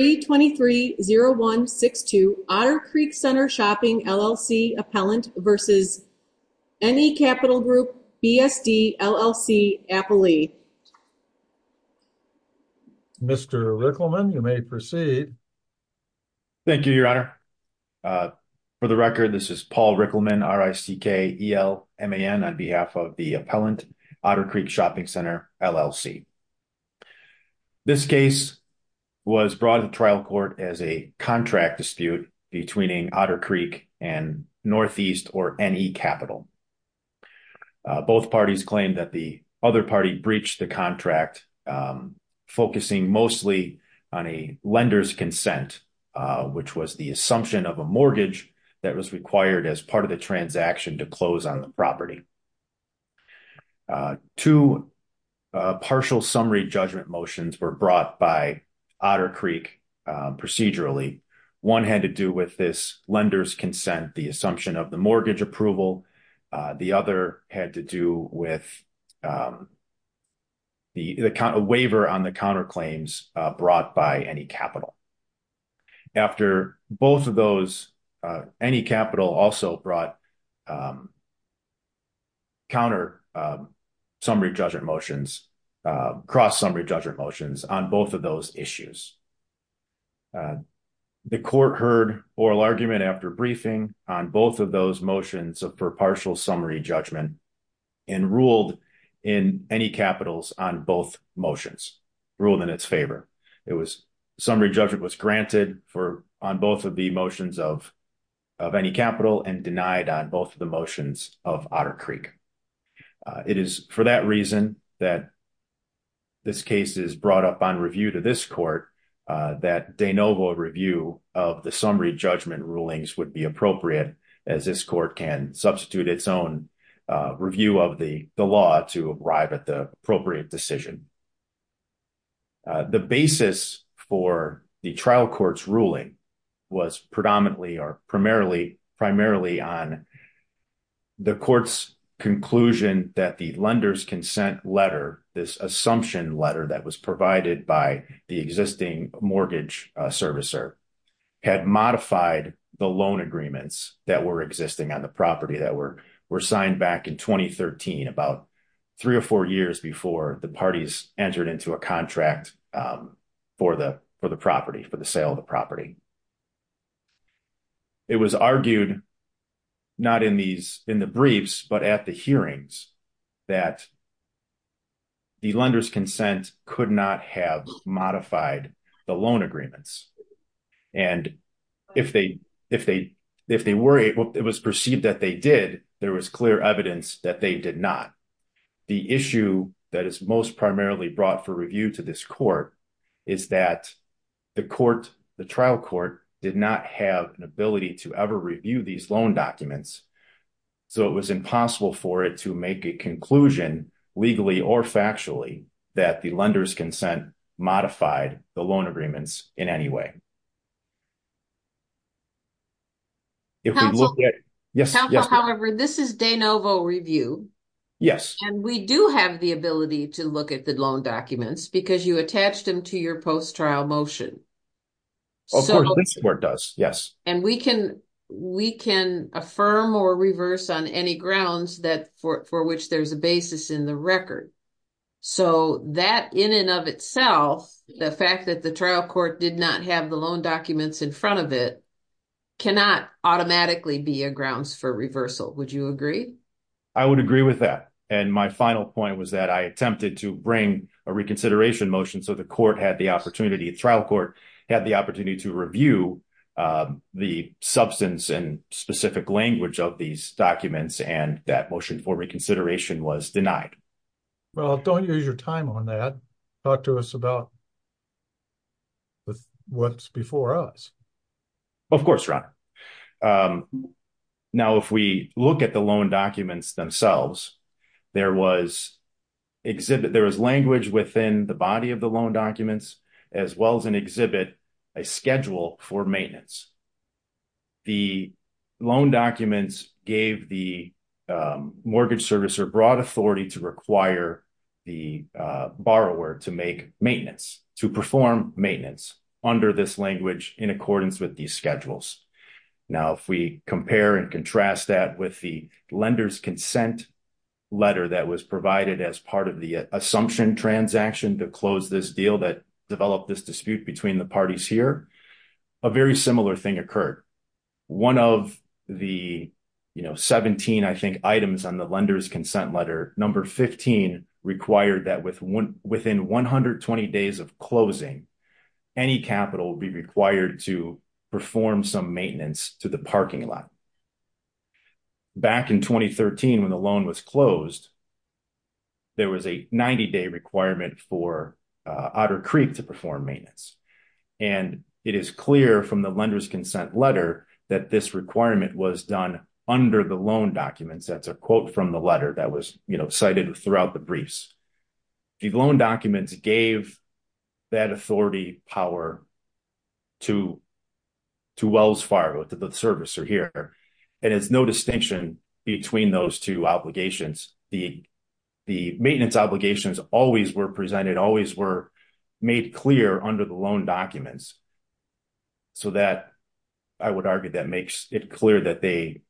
323-0162 Otter Creek Center Shopping, LLC Appellant v. NE Capital Group BSD, LLC Appellee. Mr. Rickleman, you may proceed. Thank you, Your Honor. For the record, this is Paul Rickleman, R-I-C-K-E-L-M-A-N on behalf of the Appellant, Otter Creek Shopping Center, LLC. This case was brought to trial court as a contract dispute between Otter Creek and Northeast or NE Capital. Both parties claimed that the other party breached the contract, focusing mostly on a lender's consent which was the assumption of a mortgage that was required as part of the transaction to close on the property. Two partial summary judgment motions were brought by Otter Creek procedurally. One had to do with this lender's consent, the assumption of the mortgage approval. The other had to do with the waiver on the counterclaims brought by NE Capital. After both of those, NE Capital also brought counter summary judgment motions, cross summary judgment motions on both of those issues. The court heard oral argument after briefing on both of those motions of per partial summary judgment and ruled in NE Capital's on both motions, ruled in its favor. It was summary judgment was granted on both of the motions of NE Capital and denied on both of the motions of Otter Creek. It is for that reason that this case is brought up on review to this court that de novo review of the summary judgment rulings would be appropriate as this court can substitute its own review of the law to arrive at the appropriate decision. The basis for the trial court's ruling was predominantly or primarily on the court's conclusion that the lender's consent letter, this assumption letter that was provided by the existing mortgage servicer had modified the loan agreements that were existing on the property that were signed back in 2013, about three or four years before the parties entered into a contract for the sale of the property. It was argued not in the briefs, but at the hearings that the lender's consent could not have modified the loan agreements. And if they were able, it was perceived that they did, there was clear evidence that they did not. The issue that is most primarily brought for review to this court is that the court, the trial court did not have an ability to ever review these loan documents. So it was impossible for it to make a conclusion legally or factually that the lender's consent modified the loan agreements in any way. If we look at- Councilor, however, this is de novo review. Yes. And we do have the ability to look at the loan documents because you attached them to your post-trial motion. Of course, this court does, yes. And we can affirm or reverse on any grounds for which there's a basis in the record. So that in and of itself, the fact that the trial court did not have the loan documents in front of it cannot automatically be a grounds for reversal. Would you agree? I would agree with that. And my final point was that I attempted to bring a reconsideration motion so the court had the opportunity, the trial court had the opportunity to review the substance and specific language of these documents and that motion for reconsideration was denied. Well, don't use your time on that. Talk to us about what's before us. Of course, Ron. Now, if we look at the loan documents themselves, there was exhibit, there was language within the body of the loan documents as well as an exhibit, a schedule for maintenance. The loan documents gave the mortgage servicer broad authority to require the borrower to make maintenance to perform maintenance under this language in accordance with these schedules. Now, if we compare and contrast that with the lender's consent letter that was provided as part of the assumption transaction to close this deal that developed this dispute between the parties here, a very similar thing occurred. One of the 17, I think, items on the lender's consent letter number 15 required that within 120 days of closing, any capital will be required to perform some maintenance to the parking lot. Back in 2013, when the loan was closed, there was a 90-day requirement for Otter Creek to perform maintenance. And it is clear from the lender's consent letter that this requirement was done under the loan documents. That's a quote from the letter that was cited throughout the briefs. The loan documents gave that authority power to Wells Fargo, to the servicer here. And it's no distinction between those two obligations. The maintenance obligations always were presented, always were made clear under the loan documents. So that, I would argue that makes it clear that the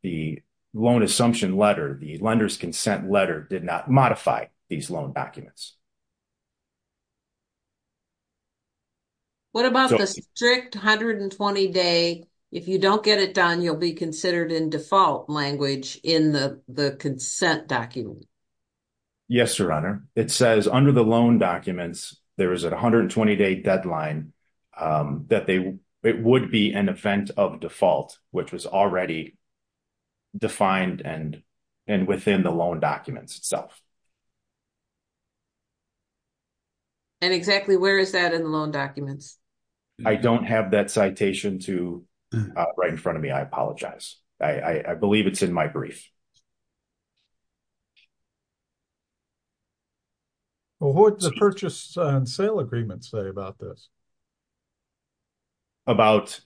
loan assumption letter, the lender's consent letter did not modify these loan documents. What about the strict 120-day, if you don't get it done, you'll be considered in default language in the consent document? Yes, Your Honor. It says under the loan documents, there is a 120-day deadline that it would be an event of default, which was already defined and within the loan documents itself. And exactly where is that in the loan documents? I don't have that citation right in front of me. I apologize. I believe it's in my brief. Well, what does the purchase and sale agreement say about this? About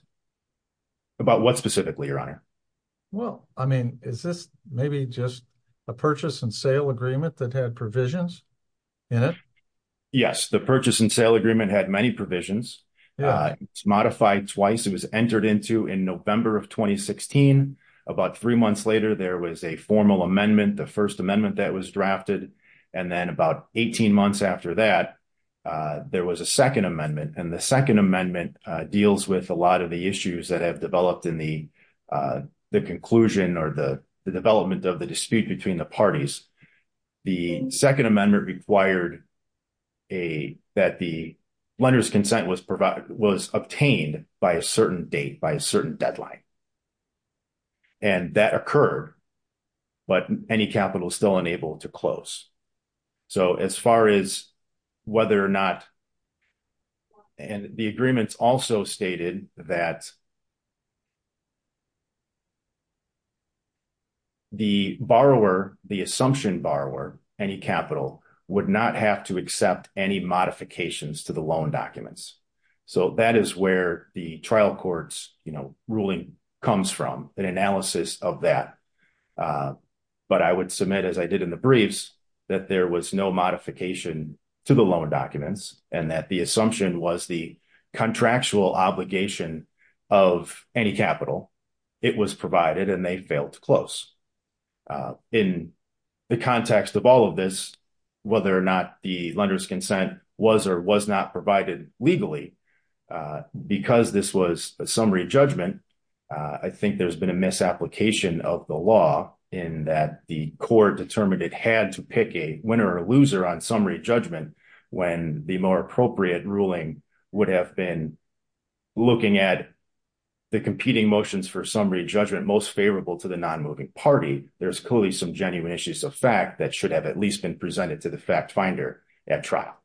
what specifically, Your Honor? Well, I mean, is this maybe just a purchase and sale agreement that had provisions in it? Yes, the purchase and sale agreement had many provisions. It's modified twice. It was entered into in November of 2016. About three months later, there was a formal amendment, the first amendment that was drafted. And then about 18 months after that, there was a second amendment. And the second amendment deals with a lot of the issues that have developed in the conclusion or the development of the dispute between the parties. The second amendment required that the lender's consent was obtained by a certain date, by a certain deadline. And that occurred, but any capital is still unable to close. So as far as whether or not, and the agreements also stated that the borrower, the assumption borrower, any capital would not have to accept any modifications to the loan documents. So that is where the trial court's ruling comes from, an analysis of that. But I would submit as I did in the briefs that there was no modification to the loan documents and that the assumption was the contractual obligation of any capital, it was provided and they failed to close. In the context of all of this, whether or not the lender's consent was or was not provided legally, because this was a summary judgment, I think there's been a misapplication of the law in that the court determined it had to pick a winner or loser on summary judgment when the more appropriate ruling would have been looking at the competing motions for summary judgment most favorable to the non-moving party, there's clearly some genuine issues of fact that should have at least been presented to the fact finder at trial.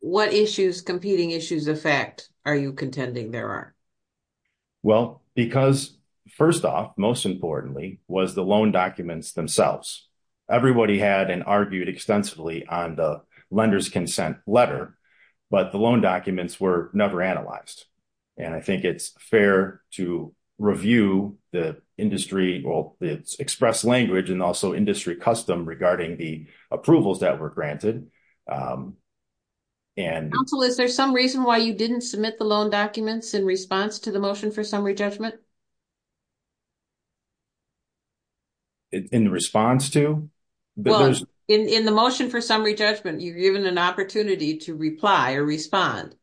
What issues, competing issues of fact are you contending there are? Well, because first off, most importantly was the loan documents themselves. Everybody had an argued extensively on the lender's consent letter, but the loan documents were never analyzed. And I think it's fair to review the industry, well, it's express language and also industry custom regarding the approvals that were granted. And- Council, is there some reason why you didn't submit the loan documents in response to the motion for summary judgment? In response to? Well, in the motion for summary judgment, you've given an opportunity to reply or respond.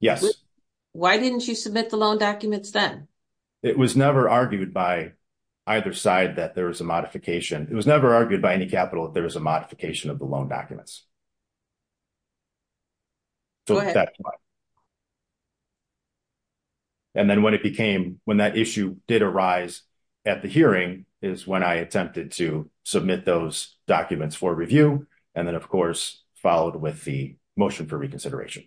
Yes. Why didn't you submit the loan documents then? It was never argued by either side that there was a modification. It was never argued by any capital that there was a modification of the loan documents. Go ahead. So that's why. And then when it became, when that change occurred, when that issue did arise at the hearing is when I attempted to submit those documents for review. And then of course, followed with the motion for reconsideration.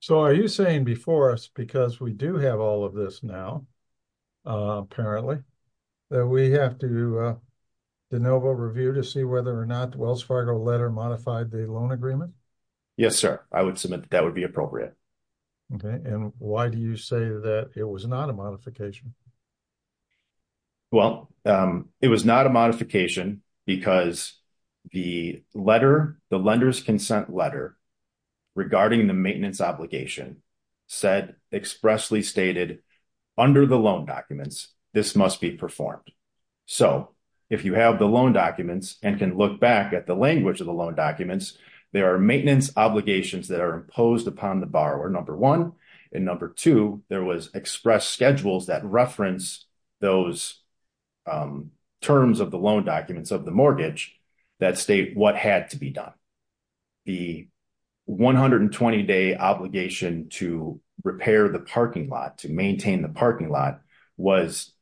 So are you saying before us, because we do have all of this now apparently, that we have to do a de novo review to see whether or not the Wells Fargo letter modified the loan agreement? Yes, sir. I would submit that that would be appropriate. Okay. And why do you say that it was not a modification? Well, it was not a modification because the letter, the lender's consent letter regarding the maintenance obligation said expressly stated under the loan documents, this must be performed. So if you have the loan documents and can look back at the language of the loan documents, there are maintenance obligations that are imposed upon the borrower, number one. And number two, there was express schedules that reference those terms of the loan documents of the mortgage that state what had to be done. The 120 day obligation to repair the parking lot, to maintain the parking lot was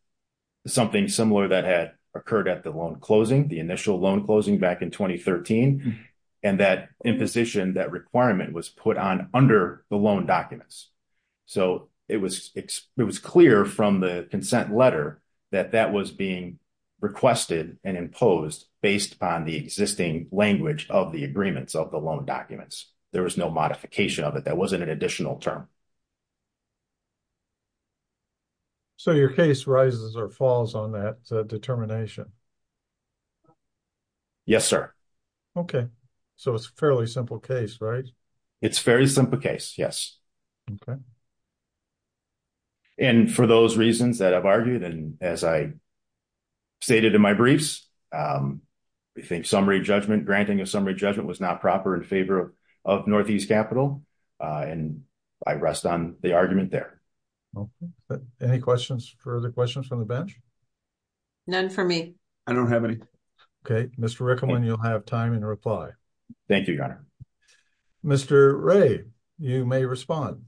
something similar that had occurred at the loan closing, the initial loan closing back in 2013. And that imposition, that requirement was put on under the loan documents. So it was clear from the consent letter that that was being requested and imposed based on the existing language of the agreements of the loan documents. There was no modification of it. That wasn't an additional term. So your case rises or falls on that determination? Yes, sir. Okay. So it's a fairly simple case, right? It's a very simple case, yes. And for those reasons that I've argued, and as I stated in my briefs, we think granting a summary judgment was not proper in favor of Northeast Capital. And I rest on the argument there. Any questions, further questions from the bench? None for me. I don't have any. Okay, Mr. Rickman, you'll have time in reply. Thank you, Your Honor. Mr. Ray, you may respond.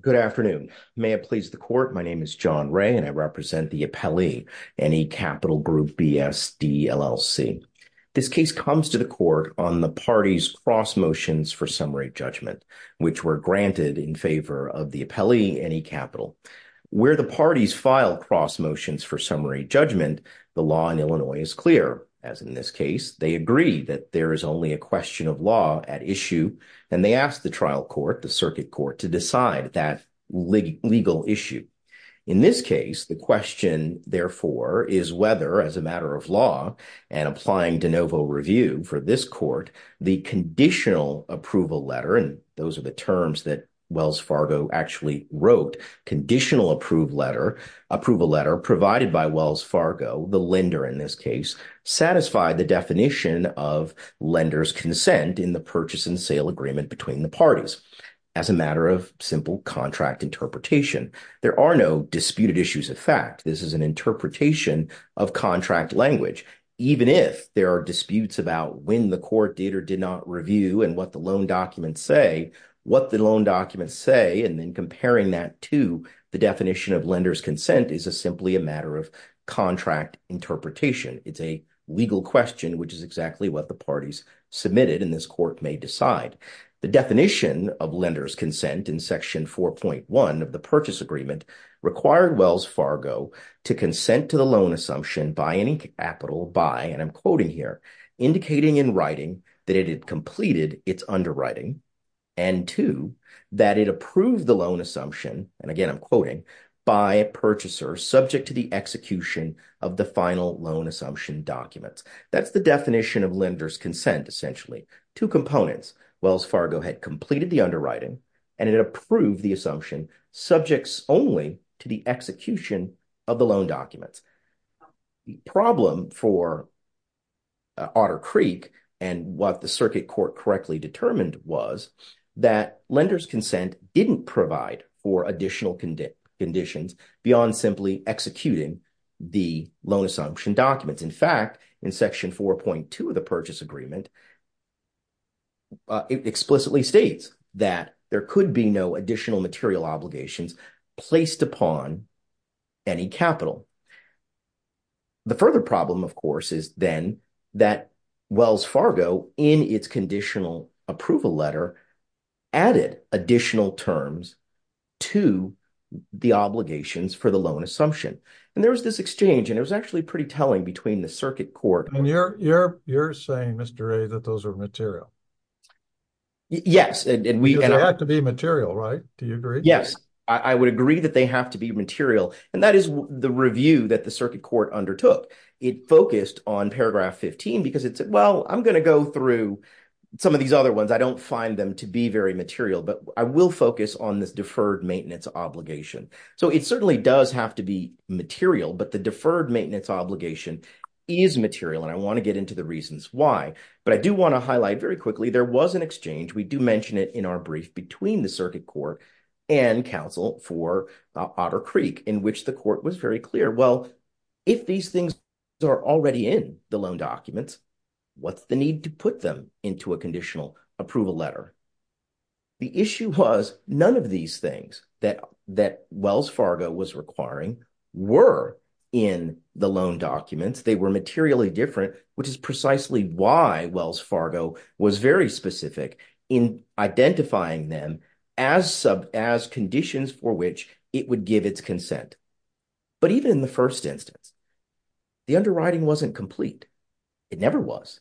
Good afternoon. May it please the court. My name is John Ray and I represent the appellee, NE Capital Group BSD LLC. This case comes to the court on the party's cross motions for summary judgment, which were granted in favor of the appellee, NE Capital. Where the parties filed cross motions for summary judgment, the law in Illinois is clear. As in this case, they agree that there is only a question of law at issue. And they asked the trial court, the circuit court, to decide that legal issue. In this case, the question therefore, is whether as a matter of law and applying de novo review for this court, the conditional approval letter, and those are the terms that Wells Fargo actually wrote, conditional approval letter are provided by Wells Fargo, the lender in this case, satisfy the definition of lender's consent in the purchase and sale agreement between the parties as a matter of simple contract interpretation. There are no disputed issues of fact. This is an interpretation of contract language. Even if there are disputes about when the court did or did not review and what the loan documents say, what the loan documents say, and then comparing that to the definition of lender's consent is simply a matter of contract interpretation. It's a legal question, which is exactly what the parties submitted and this court may decide. The definition of lender's consent in section 4.1 of the purchase agreement required Wells Fargo to consent to the loan assumption by any capital by, and I'm quoting here, indicating in writing that it had completed its underwriting and two, that it approved the loan assumption, and again, I'm quoting, by a purchaser subject to the execution of the final loan assumption documents. That's the definition of lender's consent essentially. Two components, Wells Fargo had completed the underwriting and it approved the assumption subjects only to the execution of the loan documents. The problem for Otter Creek and what the circuit court correctly determined was that lender's consent didn't provide for additional conditions beyond simply executing the loan assumption documents. In fact, in section 4.2 of the purchase agreement, it explicitly states that there could be no additional material obligations placed upon any capital. The further problem, of course, is then that Wells Fargo in its conditional approval letter added additional terms to the obligations for the loan assumption. And there was this exchange and it was actually pretty telling between the circuit court- And you're saying, Mr. Ray, that those are material. Yes, and we- They have to be material, right? Do you agree? Yes, I would agree that they have to be material. And that is the review that the circuit court undertook. It focused on paragraph 15 because it said, well, I'm gonna go through some of these other ones. I don't find them to be very material, but I will focus on this deferred maintenance obligation. So it certainly does have to be material, but the deferred maintenance obligation is material. And I wanna get into the reasons why, but I do wanna highlight very quickly, there was an exchange. We do mention it in our brief between the circuit court and counsel for Otter Creek in which the court was very clear. Well, if these things are already in the loan documents, what's the need to put them into a conditional approval letter? The issue was none of these things that Wells Fargo was requiring were in the loan documents. They were materially different, which is precisely why Wells Fargo was very specific in identifying them as conditions for which it would give its consent. But even in the first instance, the underwriting wasn't complete. It never was.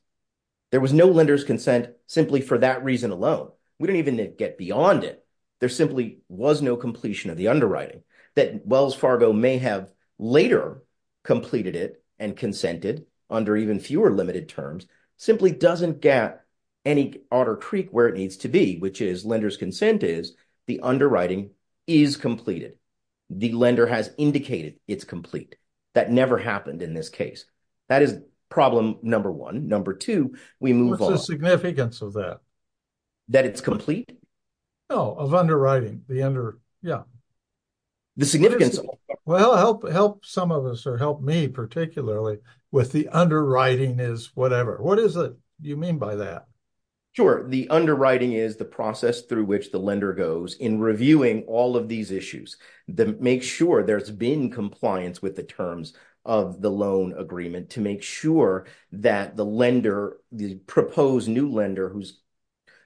There was no lender's consent simply for that reason alone. We don't even get beyond it. There simply was no completion of the underwriting that Wells Fargo may have later completed it and consented under even fewer limited terms simply doesn't get any Otter Creek where it needs to be, which is lender's consent is the underwriting is completed. The lender has indicated it's complete. That never happened in this case. That is problem number one. Number two, we move on. What's the significance of that? That it's complete? No, of underwriting, the under, yeah. The significance of it. Well, help some of us or help me particularly with the underwriting is whatever. What is it you mean by that? Sure, the underwriting is the process through which the lender goes in reviewing all of these issues that make sure there's been compliance with the terms of the loan agreement to make sure that the lender, the proposed new lender who's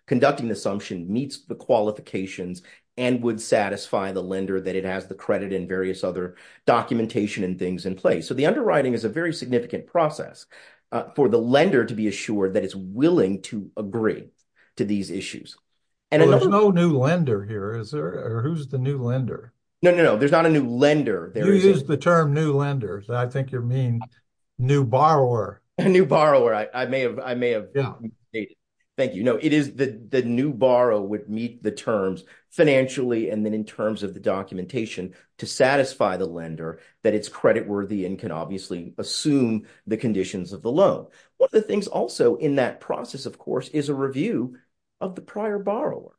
conducting the assumption meets the qualifications and would satisfy the lender that it has the credit and various other documentation and things in place. So the underwriting is a very significant process for the lender to be assured that it's willing to agree to these issues. And another- There's no new lender here. Is there, or who's the new lender? No, no, no, there's not a new lender. You used the term new lender. I think you mean new borrower. A new borrower. I may have, I may have- Yeah. Thank you. No, it is the new borrower would meet the terms financially and then in terms of the documentation to satisfy the lender that it's credit worthy and can obviously assume the conditions of the loan. One of the things also in that process, of course, is a review of the prior borrower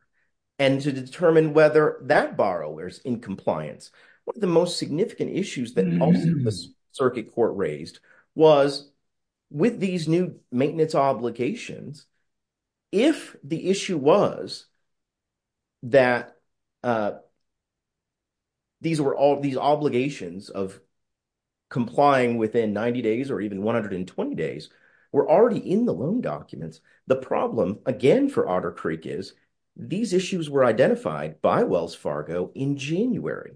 and to determine whether that borrower's in compliance. One of the most significant issues that also the circuit court raised was with these new maintenance obligations, if the issue was that these were all these obligations of complying within 90 days or even 120 days, we're already in the loan documents. The problem again for Otter Creek is these issues were identified by Wells Fargo in January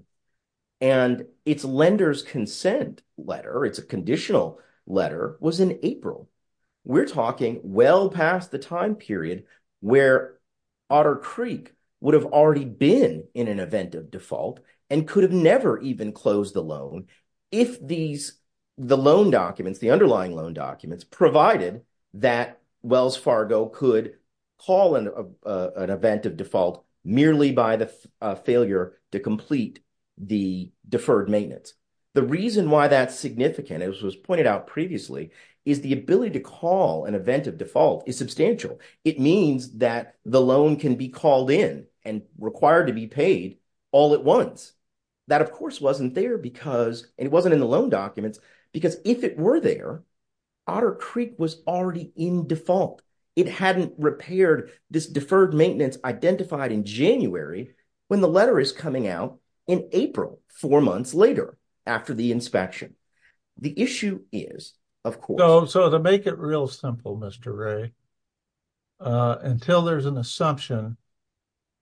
and its lender's consent letter, it's a conditional letter, was in April. We're talking well past the time period where Otter Creek would have already been in an event of default and could have never even closed the loan if these, the loan documents, the underlying loan documents, provided that Wells Fargo could call an event of default merely by the failure to complete the deferred maintenance. The reason why that's significant, as was pointed out previously, is the ability to call an event of default is substantial. It means that the loan can be called in and required to be paid all at once. That, of course, wasn't there because, and it wasn't in the loan documents, because if it were there, Otter Creek was already in default. It hadn't repaired this deferred maintenance identified in January when the letter is coming out in April, four months later after the inspection. The issue is, of course- So to make it real simple, Mr. Ray, until there's an assumption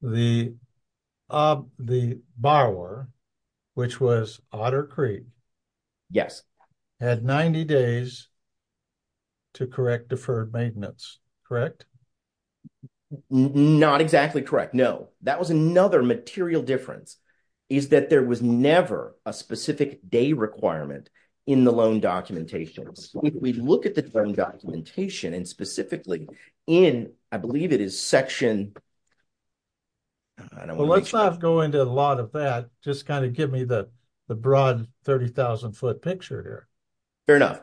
of the borrower, which was Otter Creek- Yes. Had 90 days to correct deferred maintenance, correct? Not exactly correct, no. That was another material difference, is that there was never a specific day requirement in the loan documentation. So if we look at the loan documentation, and specifically in, I believe it is section, I don't want to make sure- Well, let's not go into a lot of that. Just kind of give me the broad 30,000-foot picture here. Fair enough.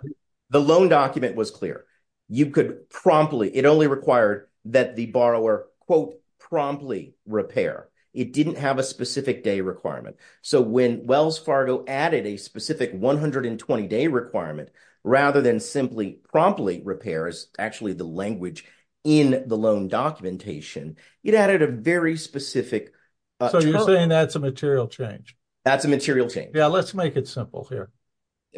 The loan document was clear. You could promptly, it only required that the borrower, quote, promptly repair. It didn't have a specific day requirement. So when Wells Fargo added a specific 120-day requirement, rather than simply promptly repair, is actually the language in the loan documentation, it added a very specific- So you're saying that's a material change? That's a material change. Yeah, let's make it simple here.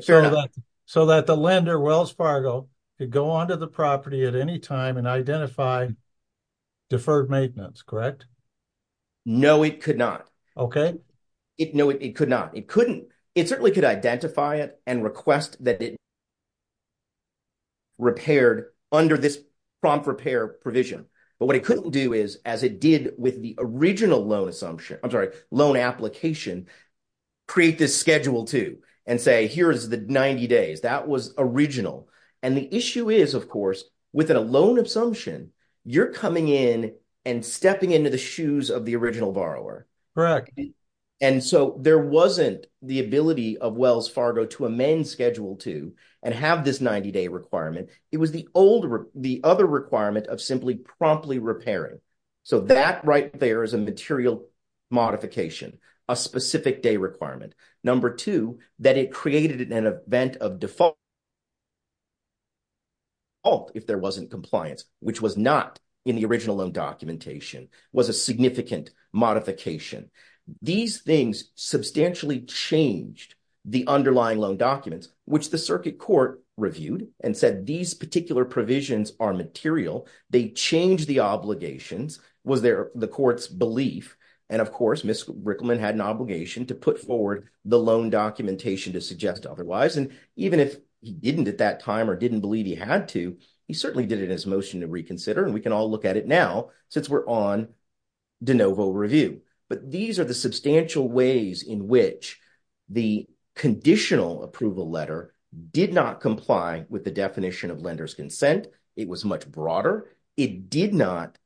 Fair enough. So that the lender, Wells Fargo, could go onto the property at any time and identify deferred maintenance, correct? No, it could not. Okay. It, no, it could not. It couldn't, it certainly could identify it and request that it repaired under this prompt repair provision. But what it couldn't do is, as it did with the original loan assumption, I'm sorry, loan application, create this Schedule II and say, here's the 90 days, that was original. And the issue is, of course, with a loan assumption, you're coming in and stepping into the shoes of the original borrower. Correct. And so there wasn't the ability of Wells Fargo to amend Schedule II and have this 90-day requirement. It was the older, the other requirement of simply promptly repairing. So that right there is a material modification, a specific day requirement. Number two, that it created an event of default, if there wasn't compliance, which was not in the original loan documentation, was a significant modification. These things substantially changed the underlying loan documents, which the circuit court reviewed and said these particular provisions are material. They changed the obligations. Was there the court's belief? And of course, Ms. Rickleman had an obligation to put forward the loan documentation to suggest otherwise. And even if he didn't at that time or didn't believe he had to, he certainly did it in his motion to reconsider. And we can all look at it now, since we're on de novo review. But these are the substantial ways in which the conditional approval letter did not comply with the definition of lender's consent. It was much broader. It did not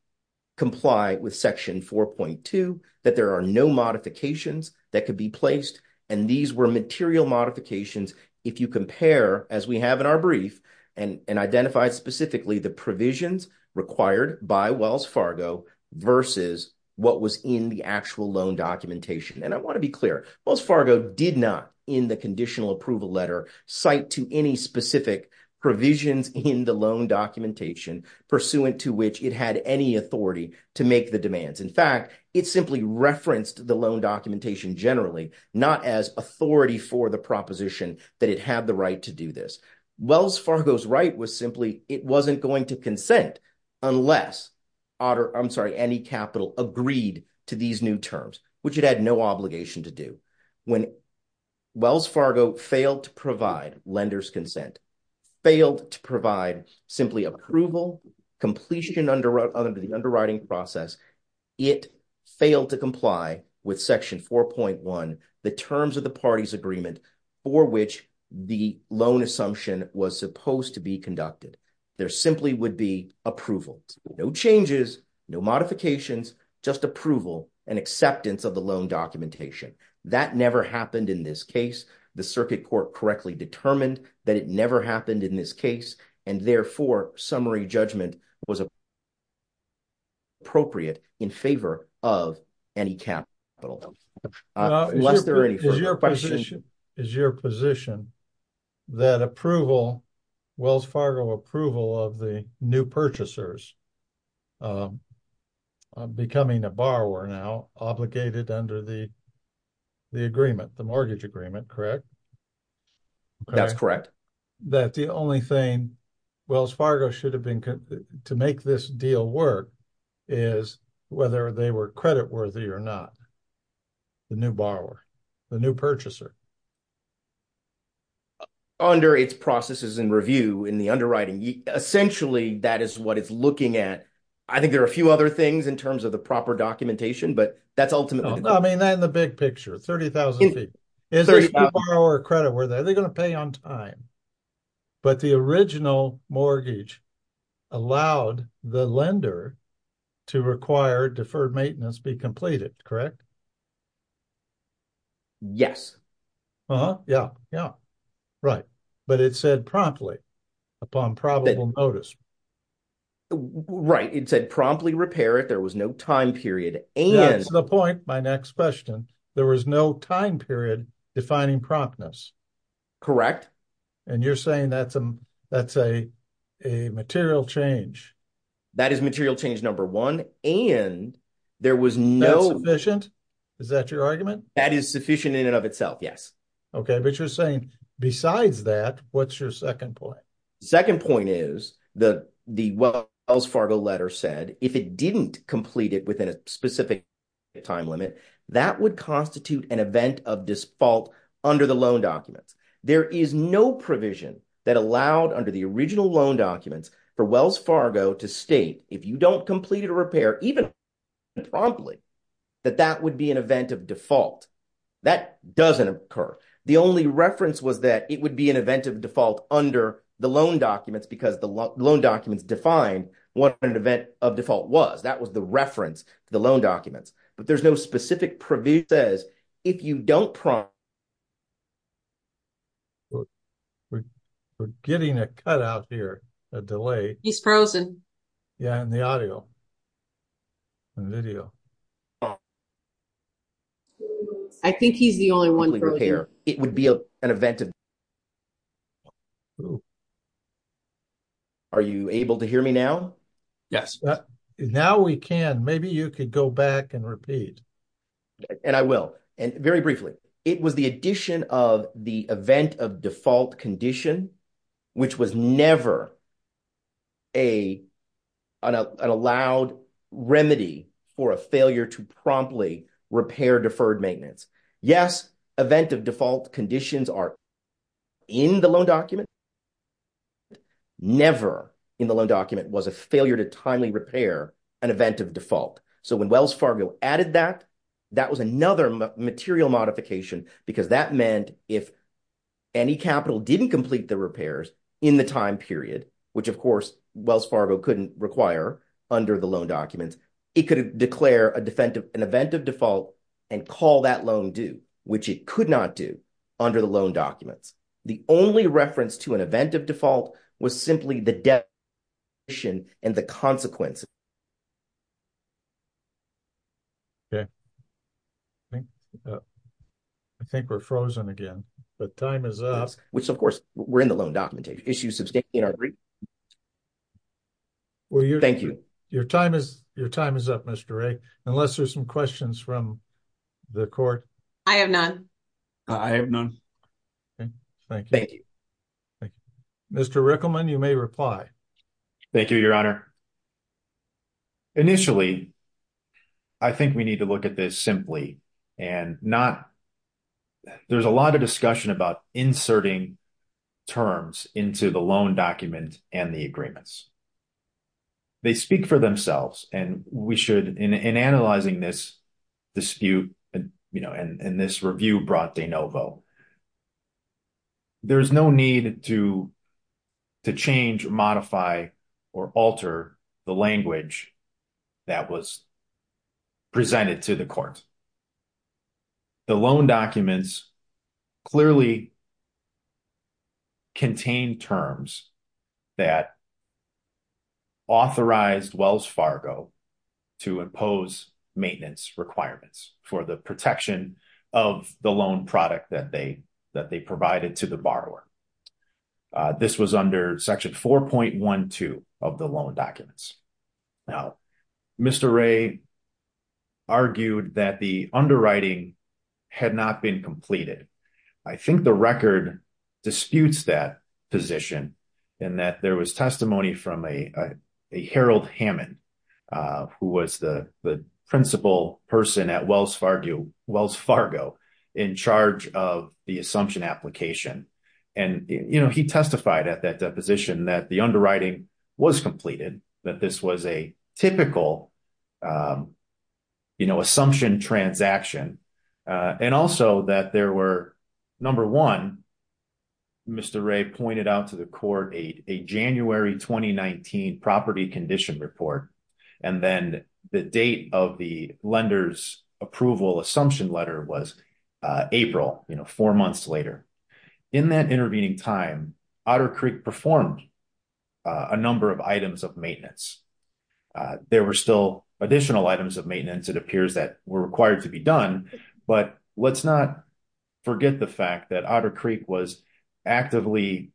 comply with section 4.2, that there are no modifications that could be placed. And these were material modifications. If you compare, as we have in our brief, and identified specifically the provisions required by Wells Fargo versus what was in the actual loan documentation. And I wanna be clear, Wells Fargo did not, in the conditional approval letter, cite to any specific provisions in the loan documentation pursuant to which it had any authority to make the demands. In fact, it simply referenced the loan documentation generally, not as authority for the proposition that it had the right to do this. Wells Fargo's right was simply, it wasn't going to consent unless Otter, I'm sorry, any capital agreed to these new terms, which it had no obligation to do. When Wells Fargo failed to provide lender's consent, failed to provide simply approval, completion under the underwriting process, it failed to comply with section 4.1, the terms of the party's agreement for which the loan assumption was supposed to be conducted. There simply would be approval. No changes, no modifications, just approval and acceptance of the loan documentation. That never happened in this case. The circuit court correctly determined that it never happened in this case. And therefore, summary judgment was appropriate in favor of any capital, unless there are any further questions. Is your position that approval, Wells Fargo approval of the new purchasers becoming a borrower now, obligated under the agreement, the mortgage agreement, correct? That's correct. That the only thing Wells Fargo should have been, to make this deal work, is whether they were credit worthy or not, the new borrower, the new purchaser? Under its processes and review in the underwriting, essentially that is what it's looking at. I think there are a few other things in terms of the proper documentation, but that's ultimately- No, I mean that in the big picture, 30,000 feet. Is there a new borrower credit worthy? Are they going to pay on time? But the original mortgage allowed the lender to require deferred maintenance be completed, correct? Yes. Uh-huh, yeah, yeah, right. But it said promptly, upon probable notice. Right, it said promptly repair it. There was no time period. And- That's the point, my next question. There was no time period defining promptness. Correct. And you're saying that's a material change. That is material change, number one. And there was no- That's sufficient? Is that your argument? That is sufficient in and of itself, yes. Okay, but you're saying besides that, what's your second point? Second point is that the Wells Fargo letter said, if it didn't complete it within a specific time limit, that would constitute an event of default under the loan documents. There is no provision that allowed under the original loan documents for Wells Fargo to state if you don't complete it or repair, even promptly, that that would be an event of default. That doesn't occur. The only reference was that it would be an event of default under the loan documents because the loan documents define what an event of default was. That was the reference to the loan documents, but there's no specific provision that says if you don't prompt- We're getting a cut out here, a delay. He's frozen. Yeah, in the audio and video. I think he's the only one frozen. It would be an event of- Oh. Are you able to hear me now? Yes. Now we can. Maybe you could go back and repeat. And I will. And very briefly, it was the addition of the event of default condition, which was never an allowed remedy for a failure to promptly repair deferred maintenance. Yes, event of default conditions are in the loan document. Never in the loan document was a failure to timely repair an event of default. So when Wells Fargo added that, that was another material modification because that meant if any capital didn't complete the repairs in the time period, which of course Wells Fargo couldn't require under the loan documents, it could declare an event of default and call that loan due, which it could not do under the loan documents. The only reference to an event of default was simply the debt condition and the consequences. Okay. I think we're frozen again. The time is up. Which of course, we're in the loan documentation. Issue sustained in our brief. Well, your- Thank you. Your time is up, Mr. Ray, unless there's some questions from the court. I have none. I have none. Thank you. Thank you. Mr. Rickleman, you may reply. Thank you, your honor. Initially, I think we need to look at this simply and not, there's a lot of discussion about inserting terms into the loan document and the agreements. They speak for themselves and we should, in analyzing this dispute and this review brought de novo, there's no need to change, modify, or alter the language that was presented to the court. The loan documents clearly contain terms that authorized Wells Fargo to impose maintenance requirements for the protection of the loan product that they provided to the borrower. This was under section 4.12 of the loan documents. Now, Mr. Ray argued that the underwriting had not been completed. I think the record disputes that position and that there was testimony from a Harold Hammond, who was the principal person at Wells Fargo in charge of the assumption application. And he testified at that deposition that the underwriting was completed, that this was a typical assumption transaction, and also that there were, number one, Mr. Ray pointed out to the court a January 2019 property condition report. And then the date of the lender's approval assumption letter was April, four months later. In that intervening time, Otter Creek performed a number of items of maintenance. There were still additional items of maintenance it appears that were required to be done, but let's not forget the fact that Otter Creek was actively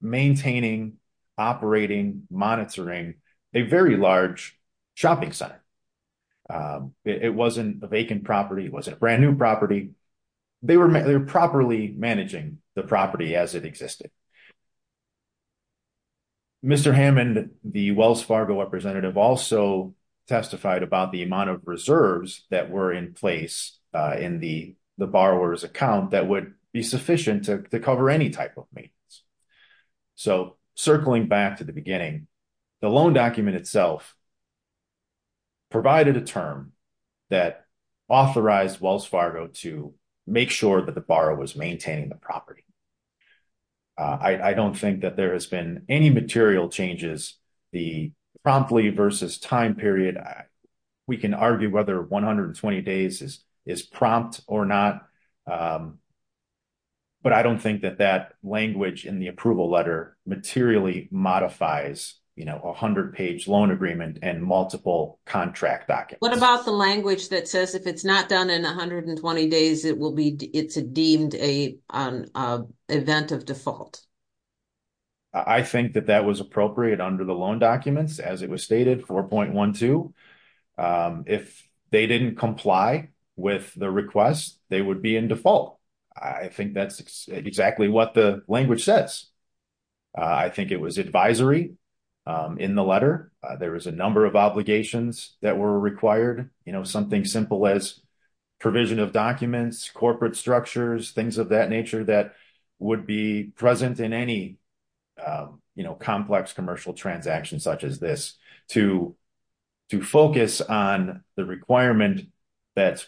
maintaining, operating, monitoring a very large shopping center. It wasn't a vacant property, it wasn't a brand new property. They were properly managing the property as it existed. Mr. Hammond, the Wells Fargo representative also testified about the amount of reserves that were in place in the borrower's account that would be sufficient to cover any type of maintenance. So circling back to the beginning, the loan document itself provided a term that authorized Wells Fargo to make sure that the borrower was maintaining the property. I don't think that there has been any material changes. The promptly versus time period, we can argue whether 120 days is prompt or not, but I don't think that that language in the approval letter materially modifies a 100-page loan agreement and multiple contract documents. What about the language that says if it's not done in 120 days, it's deemed an event of default? I think that that was appropriate under the loan documents as it was stated 4.12. If they didn't comply with the request, they would be in default. I think that's exactly what the language says. I think it was advisory in the letter. There was a number of obligations that were required, something simple as provision of documents, corporate structures, things of that nature that would be present in any complex commercial transaction such as this to focus on the requirement that's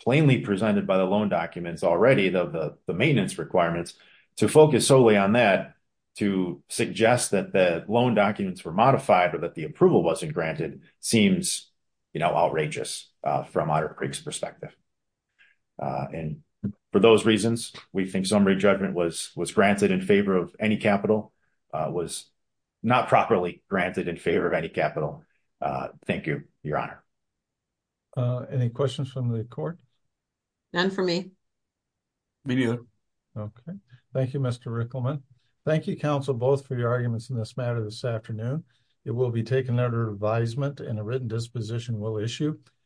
plainly presented by the loan documents already, the maintenance requirements, to focus solely on that, to suggest that the loan documents were modified or that the approval wasn't granted seems outrageous from Otter Creek's perspective. And for those reasons, we think summary judgment was granted in favor of any capital, was not properly granted in favor of any capital. Thank you, Your Honor. Any questions from the court? None from me. Me neither. Okay, thank you, Mr. Rickleman. Thank you, counsel, both for your arguments in this matter this afternoon. It will be taken under advisement and a written disposition will issue.